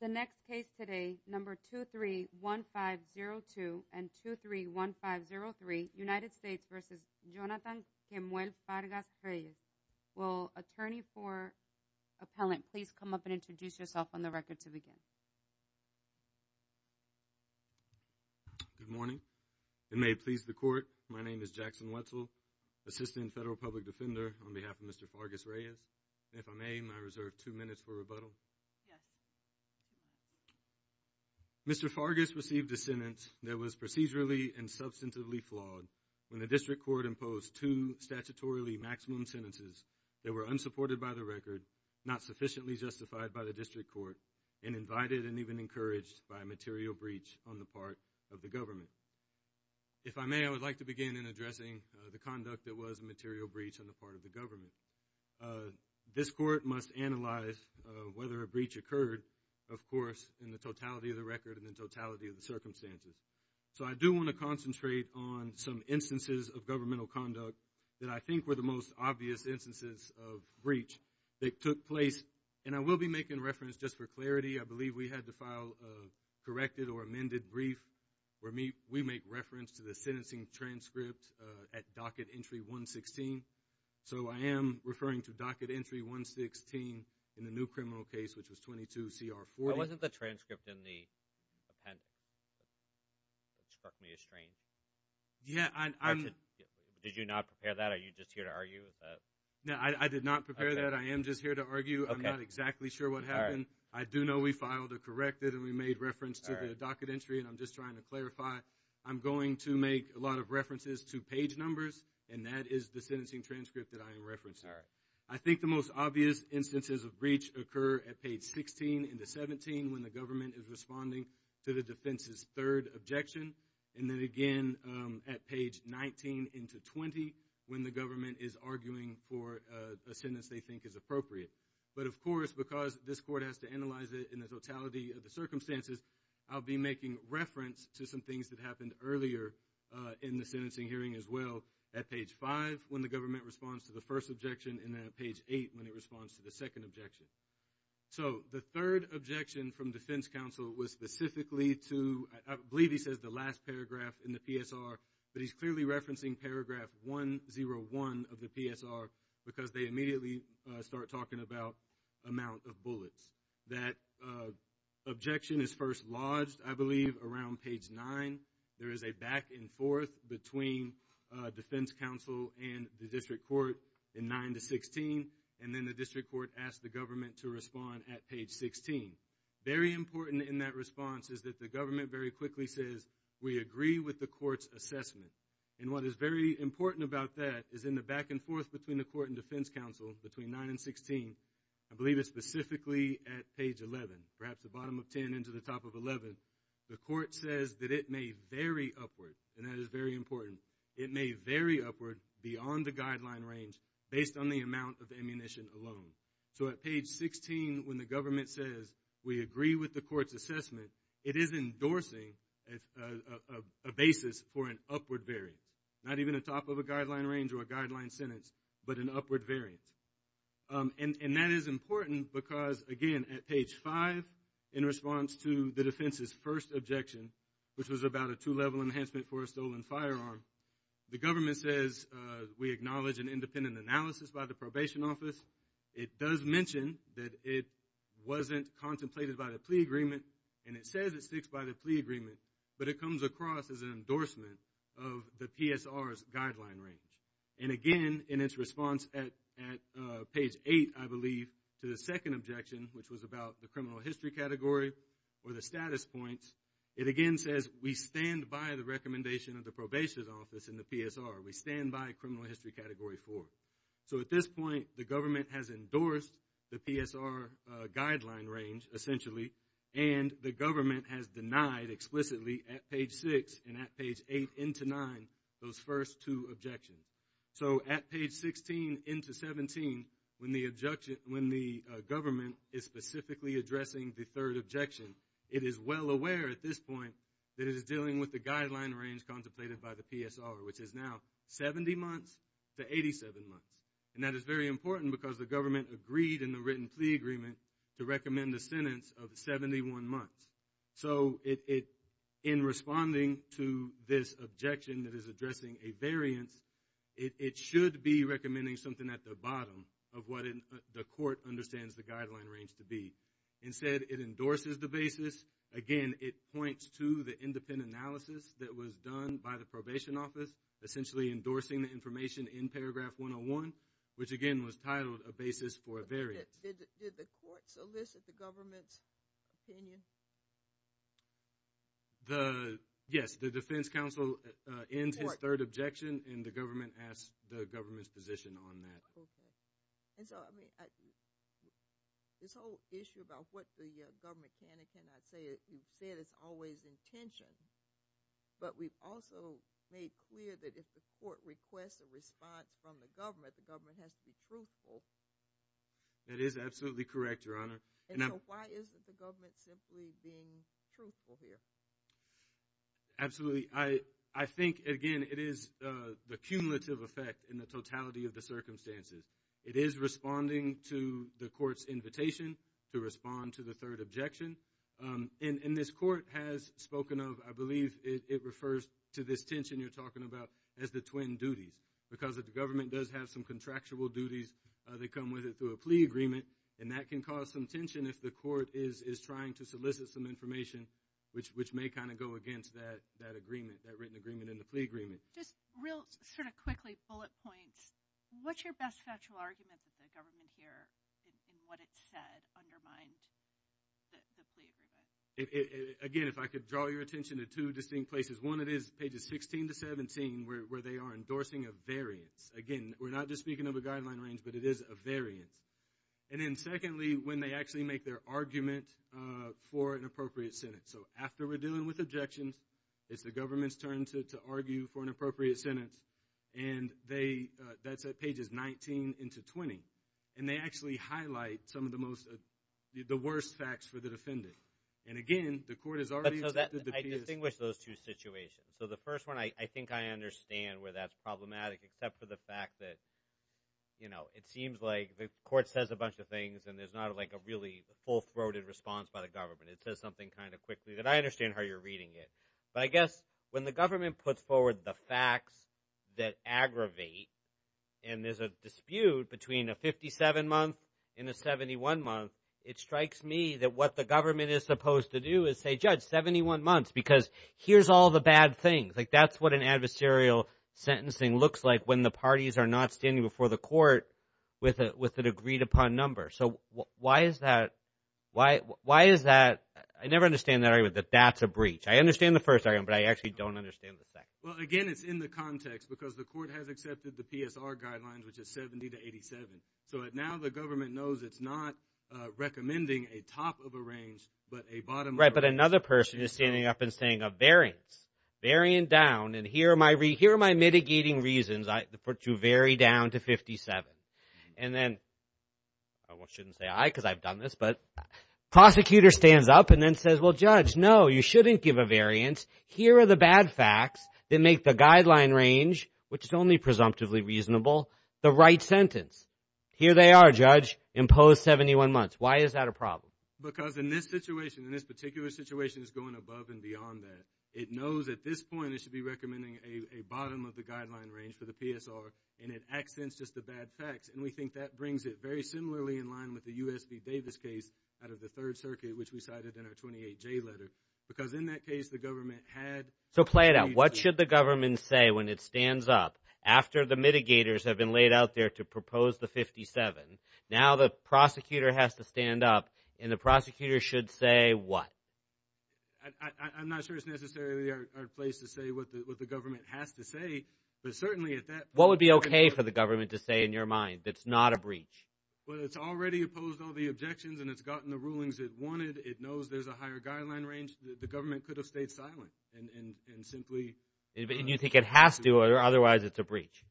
The next case today, number 231502 and 231503, United States v. Jonathan Kemuel Fargas-Reyes. Will attorney for appellant please come up and introduce yourself on the record to begin? Good morning. It may please the court, my name is Jackson Wetzel, assistant federal public defender on behalf of Mr. Fargas-Reyes. If I may, may I reserve two minutes for rebuttal? Yes. Mr. Fargas received a sentence that was procedurally and substantively flawed when the district court imposed two statutorily maximum sentences that were unsupported by the record, not sufficiently justified by the district court, and invited and even encouraged by a material breach on the part of the government. If I may, I would like to begin in addressing the conduct that was a material breach on the part of the government. This court must analyze whether a breach occurred, of course, in the totality of the record and the totality of the circumstances. So I do want to concentrate on some instances of governmental conduct that I think were the most obvious instances of breach that took place. And I will be making reference, just for clarity, I believe we had to file a corrected or amended brief where we make reference to the sentencing transcript at docket entry 116. So I am referring to docket entry 116 in the new criminal case, which was 22 CR 40. Why wasn't the transcript in the appendix that struck me as strange? Yeah, I'm... Did you not prepare that or are you just here to argue with that? No, I did not prepare that. I am just here to argue. Okay. I'm not exactly sure what happened. All right. I do know we filed a corrected and we made reference to the docket entry and I'm just trying to clarify. I'm going to make a lot of references to page numbers and that is the sentencing transcript that I am referencing. I think the most obvious instances of breach occur at page 16 into 17 when the government is responding to the defense's third objection and then again at page 19 into 20 when the government is arguing for a sentence they think is appropriate. But of course, because this court has to analyze it in the totality of the circumstances, I'll be making reference to some things that happened earlier in the sentencing hearing as well at page 5 when the government responds to the first objection and then at page 8 when it responds to the second objection. So the third objection from defense counsel was specifically to, I believe he says the last paragraph in the PSR, but he's clearly referencing paragraph 101 of the PSR because they immediately start talking about amount of bullets. That objection is first lodged, I believe, around page 9. There is a back and forth between defense counsel and the district court in 9 to 16 and then the district court asks the government to respond at page 16. Very important in that response is that the government very quickly says, we agree with the court's assessment. And what is very important about that is in the back and forth between the court and defense counsel, between 9 and 16, I believe it's specifically at page 11, perhaps the bottom of 10 into the top of 11, the court says that it may vary upward, and that is very important. It may vary upward beyond the guideline range based on the amount of ammunition alone. So at page 16 when the government says, we agree with the court's assessment, it is endorsing a basis for an upward variance, not even a top of a guideline range or a guideline sentence, but an upward variance. And that is important because, again, at page 5, in response to the defense's first objection, which was about a two-level enhancement for a stolen firearm, the government says, we acknowledge an independent analysis by the probation office. It does mention that it wasn't contemplated by the plea agreement, and it says it sticks by the plea agreement, but it comes across as an endorsement of the PSR's guideline range. And again, in its response at page 8, I believe, to the second objection, which was about the criminal history category or the status points, it again says, we stand by the recommendation of the probation office and the PSR. We stand by criminal history category 4. So at this point, the government has endorsed the PSR guideline range, essentially, and the government has denied, explicitly, at page 6 and at page 8 into 9, those first two objections. So at page 16 into 17, when the government is specifically addressing the third objection, it is well aware at this point that it is dealing with the guideline range contemplated by the PSR, which is now 70 months to 87 months. And that is very important because the government agreed in the written plea agreement to recommend the sentence of 71 months. So in responding to this objection that is addressing a variance, it should be recommending something at the bottom of what the court understands the guideline range to be. Instead, it endorses the basis. Again, it points to the independent analysis that was done by the probation office, essentially endorsing the information in paragraph 101, which again was titled, A Basis for a Variance. Did the court solicit the government's opinion? Yes, the defense counsel ends his third objection and the government asks the government's position on that. Okay. And so, I mean, this whole issue about what the government can and cannot say, he said it's always intentioned, but we've also made clear that if the court requests a response from the government, the government has to be truthful. That is absolutely correct, Your Honor. And so why isn't the government simply being truthful here? Absolutely. I think, again, it is the cumulative effect in the totality of the circumstances. It is responding to the court's invitation to respond to the third objection. And this court has spoken of, I believe it refers to this tension you're talking about as the twin duties. Because if the government does have some contractual duties, they come with it through a plea agreement, and that can cause some tension if the court is trying to solicit some information, which may kind of go against that agreement, that written agreement and the plea agreement. Just real sort of quickly, bullet points, what's your best factual argument that the government here, in what it said, undermined the plea agreement? Again, if I could draw your attention to two distinct places. One, it is pages 16 to 17, where they are endorsing a variance. Again, we're not just speaking of a guideline range, but it is a variance. And then secondly, when they actually make their argument for an appropriate sentence. So after we're dealing with objections, it's the government's turn to argue for an appropriate sentence. And that's at pages 19 into 20. And they actually highlight some of the worst facts for the defendant. And again, the court has already accepted the plea agreement. I distinguish those two situations. So the first one, I think I understand where that's problematic, except for the fact that it seems like the court says a bunch of things, and there's not a really full-throated response by the government. It says something kind of quickly. And I understand how you're reading it. But I guess when the government puts forward the facts that aggravate, and there's a dispute between a 57-month and a 71-month, it strikes me that what the government is supposed to do is say, Judge, 71 months, because here's all the bad things. That's what an adversarial sentencing looks like when the parties are not standing before the court with an agreed-upon number. So why is that? I never understand the argument that that's a breach. I understand the first argument, but I actually don't understand the second. Well, again, it's in the context, because the court has accepted the PSR guidelines, which is 70 to 87. So now the government knows it's not recommending a top of a range, but a bottom of a range. Right, but another person is standing up and saying a variance. Variant down, and here are my mitigating reasons to put you very down to 57. And then, I shouldn't say I, because I've done this, but the prosecutor stands up and then says, Well, Judge, no, you shouldn't give a variance. Here are the bad facts that make the guideline range, which is only presumptively reasonable, the right sentence. Here they are, Judge, imposed 71 months. Why is that a problem? Because in this situation, in this particular situation, it's going above and beyond that. It knows at this point it should be recommending a bottom of the guideline range for the PSR, and it accents just the bad facts. And we think that brings it very similarly in line with the U.S. v. Davis case out of the Third Circuit, which we cited in our 28J letter. Because in that case, the government had... So play it out. What should the government say when it stands up after the mitigators have been laid out there to propose the 57? Now, the prosecutor has to stand up, and the prosecutor should say what? I'm not sure it's necessarily our place to say what the government has to say, but certainly at that point... What would be okay for the government to say in your mind that's not a breach? Well, it's already opposed all the objections, and it's gotten the rulings it wanted. It knows there's a higher guideline range. The government could have stayed silent and simply... And you think it has to, or otherwise it's a breach?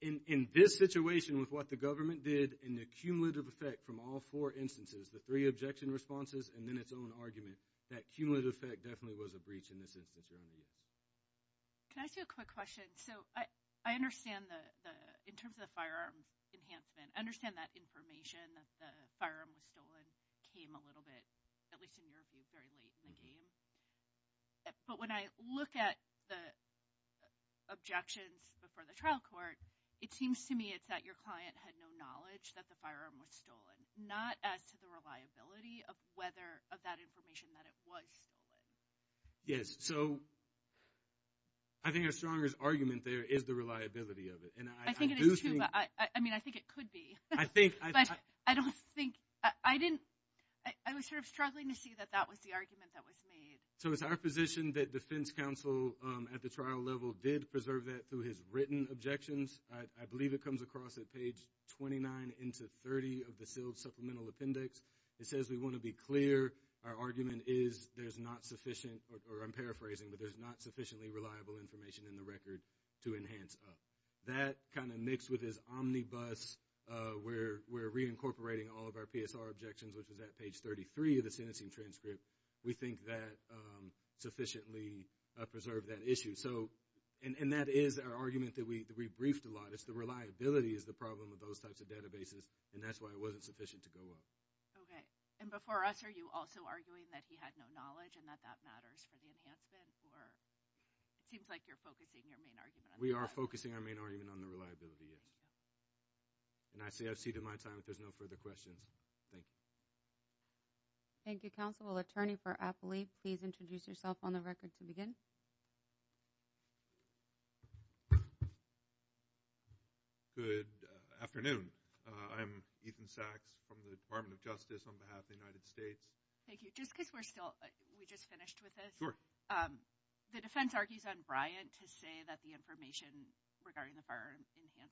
In this situation, with what the government did, and the cumulative effect from all four instances, the three objection responses, and then its own argument, that cumulative effect definitely was a breach in this instance. Can I ask you a quick question? So I understand the... In terms of the firearm enhancement, I understand that information that the firearm was stolen came a little bit, at least in your view, very late in the game. But when I look at the objections before the trial court, it seems to me it's that your client had no knowledge that the firearm was stolen, not as to the reliability of whether of that information that it was stolen. Yes. So I think our strongest argument there is the reliability of it. I think it is too, but I mean, I think it could be. I think... But I don't think... I didn't... I was sort of struggling to see that that was the argument that was made. So it's our position that defense counsel at the trial level did preserve that through his written objections. I believe it comes across at page 29 into 30 of the sealed supplemental appendix. It says, we want to be clear. Our argument is there's not sufficient, or I'm paraphrasing, but there's not sufficiently reliable information in the record to enhance us. That kind of mixed with his omnibus, where we're reincorporating all of our PSR objections, which was at page 33 of the sentencing transcript, we think that sufficiently preserved that issue. So, and that is our argument that we briefed a lot. It's the reliability is the problem with those types of databases, and that's why it wasn't sufficient to go up. Okay. And before us, are you also arguing that he had no knowledge and that that matters for the enhancement? Or it seems like you're focusing your main argument on that. We are focusing our main argument on the reliability of it. And I say I've ceded my time if there's no further questions. Thank you. Thank you, counsel. We'll attorney for Apley. Please introduce yourself on the record to begin. Good afternoon. I'm Ethan Sachs from the Department of Justice on behalf of the United States. Thank you. Just because we're still, we just finished with this. The defense argues on Bryant to say that the information regarding the fire enhancement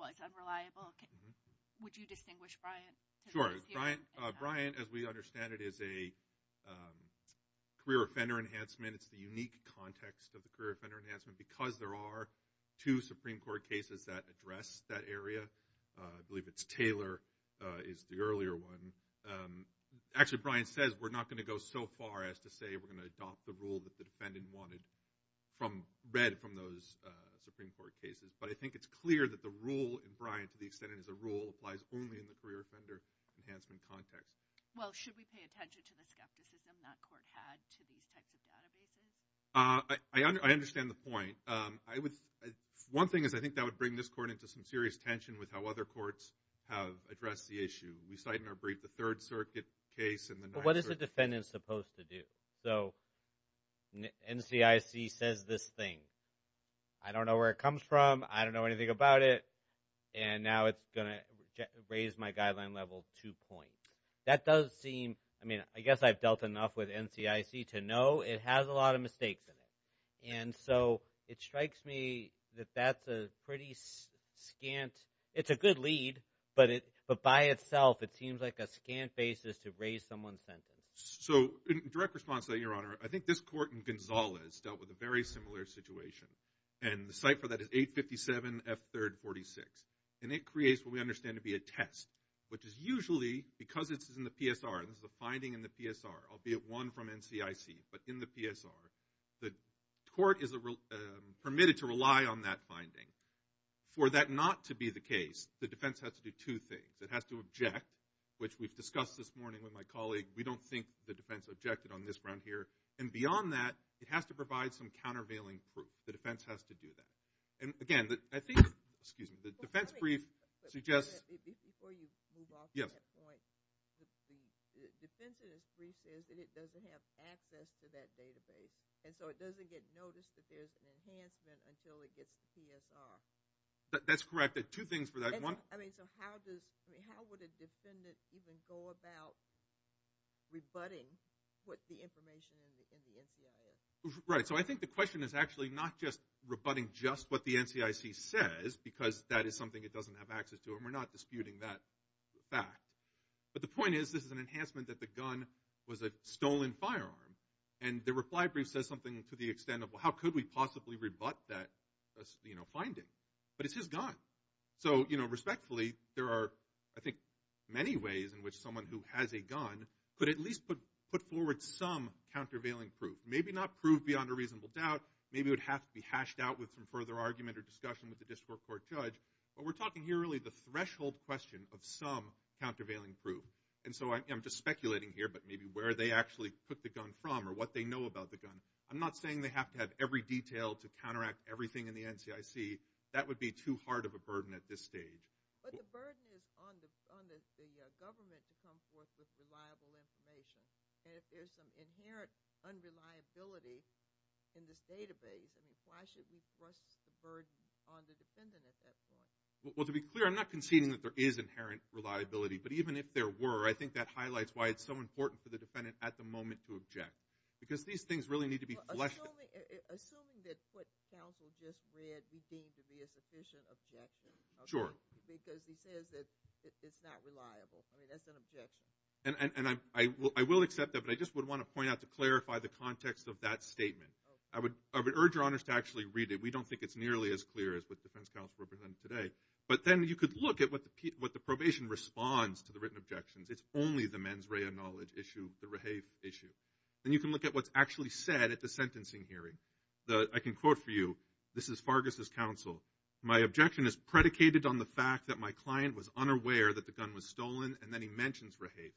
was unreliable. Would you distinguish Bryant? Sure. Bryant, as we understand it, is a career offender enhancement. It's the unique context of the career offender enhancement because there are two Supreme Court cases that address that area. I believe it's Taylor is the earlier one. Actually, Bryant says we're not going to go so far as to say we're going to adopt the rule that the defendant wanted from, read from those Supreme Court cases. But I think it's clear that the rule in Bryant, to the extent it is a rule, applies only in the career offender enhancement context. Well, should we pay attention to the skepticism that court had to these types of databases? I understand the point. One thing is I think that would bring this court into some serious tension with how other courts have addressed the issue. We cite in our brief the Third Circuit case and the Ninth Circuit case. But what is a defendant supposed to do? So NCIC says this thing. I don't know where it comes from. I don't know anything about it. And now it's going to raise my guideline level two points. That does seem, I mean, I guess I've dealt enough with NCIC to know it has a lot of mistakes in it. And so it strikes me that that's a pretty scant, it's a good lead, but by itself, it seems like a scant basis to raise someone's sentence. So in direct response to that, Your Honor, I think this court in Gonzales dealt with a very similar situation. And the site for that is 857F3rd46. And it creates what we understand to be a test, which is usually, because it's in the PSR, this is a finding in the PSR, albeit one from NCIC, but in the PSR, the court is permitted to rely on that finding. For that not to be the case, the defense has to do two things. It has to object, which we've discussed this morning with my colleague. We don't think the defense objected on this ground here. And beyond that, it has to provide some countervailing proof. The defense has to do that. And again, I think, excuse me, the defense brief suggests... Before you move off to that point, the defense in this brief says that it doesn't have access to that database. And so it doesn't get noticed that there's an enhancement until it gets to PSR. That's correct. Two things for that. So how would a defendant even go about rebutting what the information in the NCIC is? Right. So I think the question is actually not just rebutting just what the NCIC says, because that is something it doesn't have access to. And we're not disputing that fact. But the point is, this is an enhancement that the gun was a stolen firearm. And the reply brief says something to the extent of, well, how could we possibly rebut that finding? But it's his gun. So, you know, respectfully, there are, I think, many ways in which someone who has a gun could at least put forward some countervailing proof. Maybe not prove beyond a reasonable doubt. Maybe it would have to be hashed out with some further argument or discussion with the district court judge. But we're talking here really the threshold question of some countervailing proof. And so I'm just speculating here, but maybe where they actually put the gun from or what they know about the gun. I'm not saying they have to have every detail to counteract everything in the NCIC. That would be too hard of a burden at this stage. But the burden is on the government to come forth with reliable information. And if there's some inherent unreliability in this database, why should we trust the burden on the defendant at that point? Well, to be clear, I'm not conceding that there is inherent reliability. But even if there were, I think that highlights why it's so important for the defendant at the moment to object. Because these things really need to be fleshed out. Assuming that what counsel just read we deem to be a sufficient objection. Sure. Because he says that it's not reliable. I mean, that's an objection. And I will accept that, but I just would want to point out to clarify the context of that statement. I would urge your honors to actually read it. We don't think it's nearly as clear as what the defense counsel represented today. But then you could look at what the probation responds to the written objections. It's only the mens rea knowledge issue, the rehave issue. And you can look at what's actually said at the sentencing hearing. I can quote for you, this is Fargus' counsel. My objection is predicated on the fact that my client was unaware that the gun was stolen and then he mentions rehave.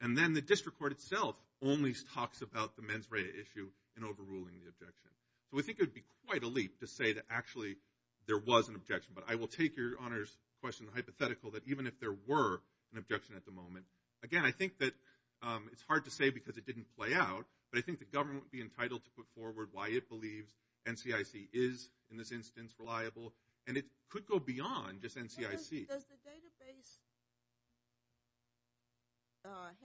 And then the district court itself only talks about the mens rea issue and overruling the objection. So I think it would be quite a leap to say that actually there was an objection. But I will take your honors question hypothetical that even if there were an objection at the moment, Again, I think that it's hard to say because it didn't play out. But I think the government would be entitled to put forward why it believes NCIC is, in this instance, reliable. And it could go beyond just NCIC. Does the database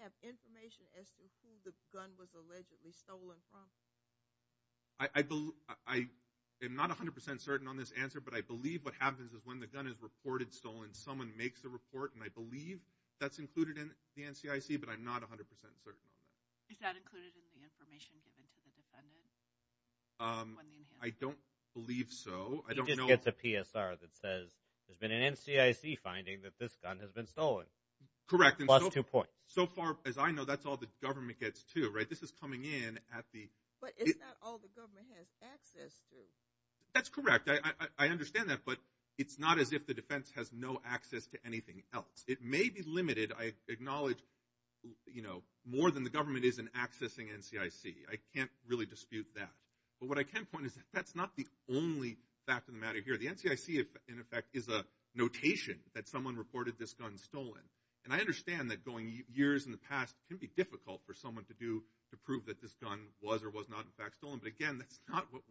have information as to who the gun was allegedly stolen from? I am not 100% certain on this answer. But I believe what happens is when the gun is reported stolen, when someone makes a report, and I believe that's included in the NCIC, but I'm not 100% certain. Is that included in the information given to the defendant? I don't believe so. He just gets a PSR that says there's been an NCIC finding that this gun has been stolen. Correct. Plus two points. So far, as I know, that's all the government gets, too. This is coming in at the... But it's not all the government has access to. That's correct. I understand that. But it's not as if the defense has no access to anything else. It may be limited. I acknowledge more than the government is in accessing NCIC. I can't really dispute that. But what I can point is that that's not the only fact of the matter here. The NCIC, in effect, is a notation that someone reported this gun stolen. And I understand that going years in the past can be difficult for someone to do to prove that this gun was or was not, in fact, stolen. But again, that's not what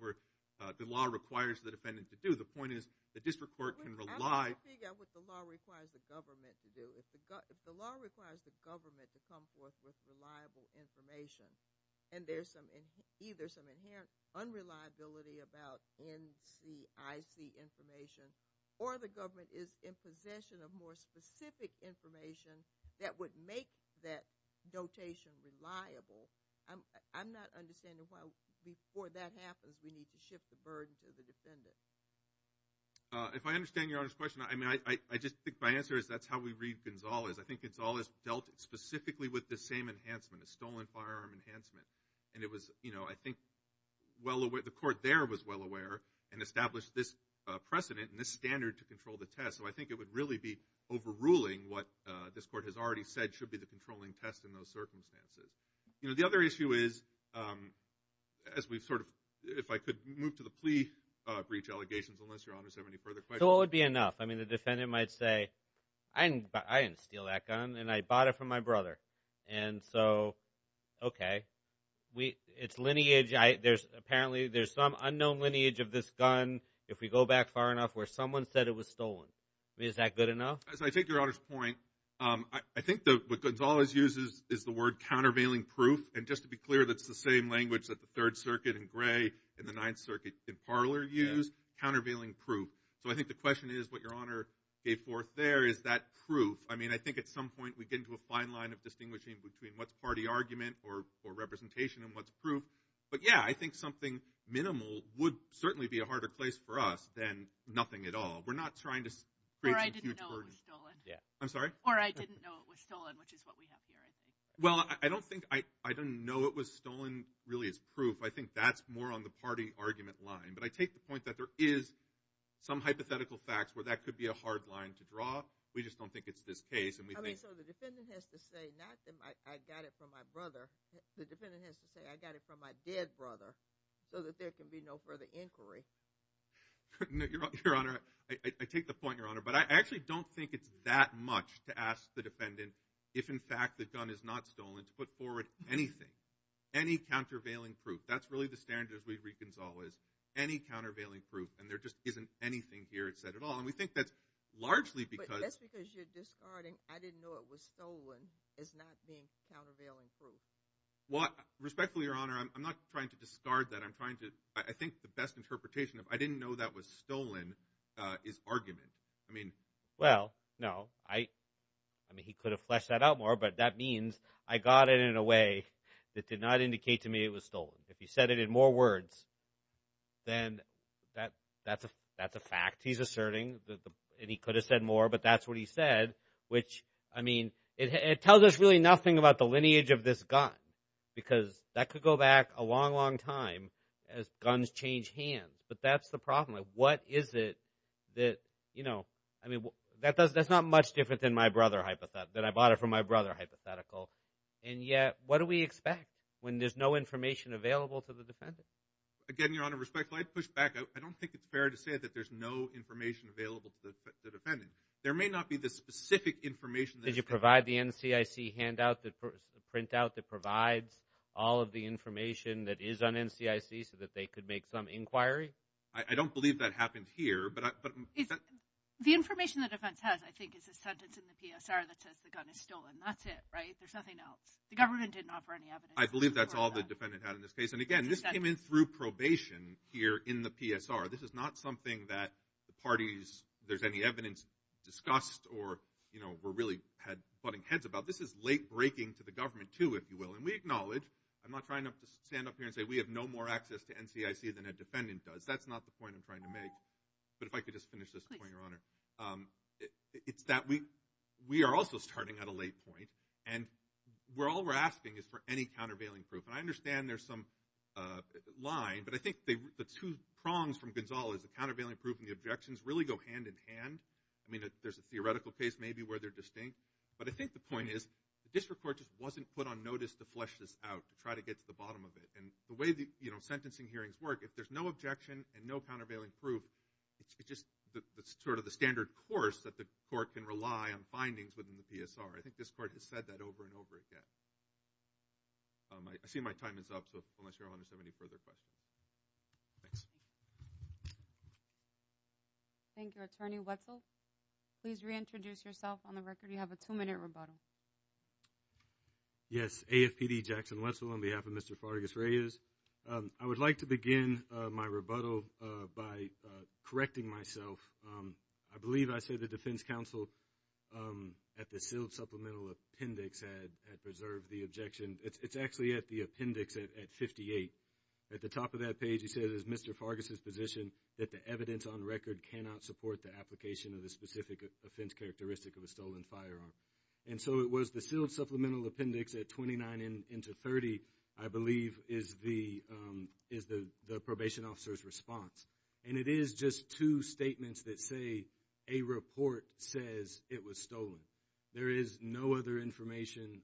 the law requires the defendant to do. The point is the district court can rely... I want to figure out what the law requires the government to do. If the law requires the government to come forth with reliable information and there's either some inherent unreliability about NCIC information or the government is in possession of more specific information that would make that notation reliable, I'm not understanding why before that happens we need to shift the burden to the defendant. If I understand Your Honor's question, I just think my answer is that's how we read Gonzalez. I think Gonzalez dealt specifically with the same enhancement, a stolen firearm enhancement. And it was, you know, I think the court there was well aware and established this precedent and this standard to control the test. So I think it would really be overruling what this court has already said should be the controlling test in those circumstances. You know, the other issue is, as we've sort of... to the plea breach allegations, unless Your Honor has any further questions. So it would be enough. I mean, the defendant might say, I didn't steal that gun and I bought it from my brother. And so, okay, it's lineage. Apparently there's some unknown lineage of this gun if we go back far enough where someone said it was stolen. I mean, is that good enough? As I take Your Honor's point, I think what Gonzalez uses is the word countervailing proof. And just to be clear, that's the same language that the Third Circuit in Gray and the Ninth Circuit in Parler use, countervailing proof. So I think the question is what Your Honor gave forth there, is that proof? I mean, I think at some point we get into a fine line of distinguishing between what's party argument or representation and what's proof. But yeah, I think something minimal would certainly be a harder place for us than nothing at all. We're not trying to create some huge burden. Or I didn't know it was stolen. I'm sorry? Or I didn't know it was stolen, which is what we have here. Well, I don't think I didn't know it was stolen really as proof. I think that's more on the party argument line. But I take the point that there is some hypothetical facts where that could be a hard line to draw. We just don't think it's this case. I mean, so the defendant has to say, not that I got it from my brother. The defendant has to say, I got it from my dead brother so that there can be no further inquiry. Your Honor, I take the point, Your Honor. But I actually don't think it's that much to ask the defendant if, in fact, the gun is not stolen to put forward anything, any countervailing proof. That's really the standard as we reconcile is any countervailing proof. And there just isn't anything here it said at all. And we think that's largely because. But that's because you're discarding, I didn't know it was stolen as not being countervailing proof. Well, respectfully, Your Honor, I'm not trying to discard that. I think the best interpretation of I didn't know that was stolen is argument. I mean, well, no. I mean, he could have fleshed that out more. But that means I got it in a way that did not indicate to me it was stolen. If he said it in more words, then that's a fact he's asserting. And he could have said more. But that's what he said, which, I mean, it tells us really nothing about the lineage of this gun. Because that could go back a long, long time as guns change hands. But that's the problem. What is it that, you know, I mean, that's not much different than my brother hypothetical, than I bought it from my brother hypothetical. And yet, what do we expect when there's no information available to the defendant? Again, Your Honor, respectfully, I'd push back. I don't think it's fair to say that there's no information available to the defendant. There may not be the specific information. Did you provide the NCIC handout, the printout that provides all of the information that is on NCIC so that they could make some inquiry? I don't believe that happened here. The information the defense has, I think, is a sentence in the PSR that says the gun is stolen. That's it, right? There's nothing else. The government didn't offer any evidence. I believe that's all the defendant had in this case. And again, this came in through probation here in the PSR. This is not something that the parties, if there's any evidence, discussed or, you know, were really had butting heads about. This is late breaking to the government, too, if you will. And we acknowledge, I'm not trying to stand up here and say we have no more access to NCIC than a defendant does. That's not the point I'm trying to make. But if I could just finish this point, Your Honor. It's that we are also starting at a late point. And all we're asking is for any countervailing proof. And I understand there's some line, but I think the two prongs from Gonzales, the countervailing proof and the objections, really go hand in hand. I mean, there's a theoretical case, maybe, where they're distinct. But I think the point is the district court just wasn't put on notice to flesh this out, to try to get to the bottom of it. And the way the, you know, sentencing hearings work, if there's no objection and no countervailing proof, it's just sort of the standard course that the court can rely on findings within the PSR. I think this court has said that over and over again. I see my time is up, so unless Your Honor has any further questions. Thanks. Thank you, Attorney Wetzel. Please reintroduce yourself on the record. You have a two-minute rebuttal. Yes, AFPD, Jackson Wetzel, on behalf of Mr. Fargus, and Ms. Reyes, I would like to begin my rebuttal by correcting myself. I believe I said the defense counsel at the sealed supplemental appendix had preserved the objection. It's actually at the appendix at 58. At the top of that page, it says, as Mr. Fargus has positioned, that the evidence on record cannot support the application of the specific offense characteristic of a stolen firearm. And so it was the sealed supplemental appendix at 29 into 30, I believe, is the probation officer's response. And it is just two statements that say a report says it was stolen. There is no other information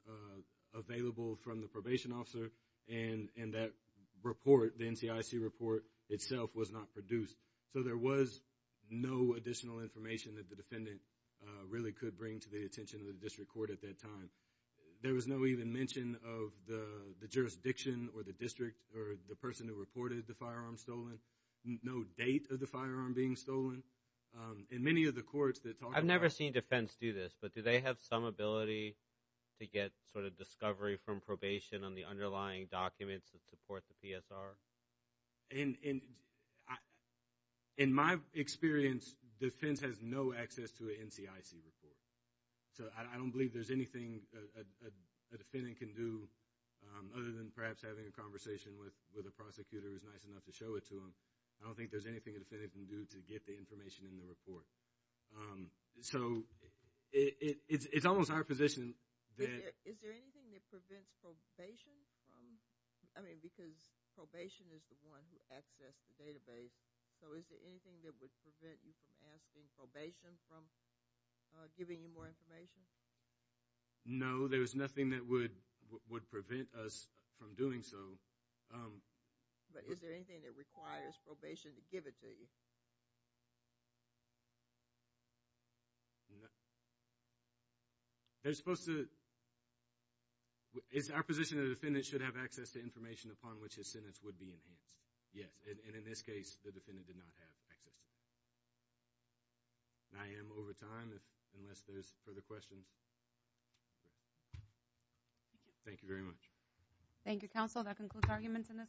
available from the probation officer, and that report, the NCIC report, itself was not produced. So there was no additional information that the defendant really could bring to the attention of the district court at that time. There was no even mention of the jurisdiction or the district or the person who reported the firearm stolen. No date of the firearm being stolen. In many of the courts that talk about... I've never seen defense do this, but do they have some ability to get sort of discovery from probation on the underlying documents that support the PSR? In my experience, defense has no access to a NCIC report. So I don't believe there's anything a defendant can do other than perhaps having a conversation with a prosecutor who's nice enough to show it to them. I don't think there's anything a defendant can do to get the information in the report. So it's almost our position that... Is there anything that prevents probation from... I mean, because probation is the one who accessed the database. So is there anything that would prevent you from asking probation from giving you more information? No, there's nothing that would prevent us from doing so. But is there anything that requires probation to give it to you? They're supposed to... It's our position that a defendant should have access to information upon which his sentence would be enhanced. Yes, and in this case, the defendant did not have access to it. And I am over time unless there's further questions. Thank you very much. Thank you, counsel. That concludes arguments in this...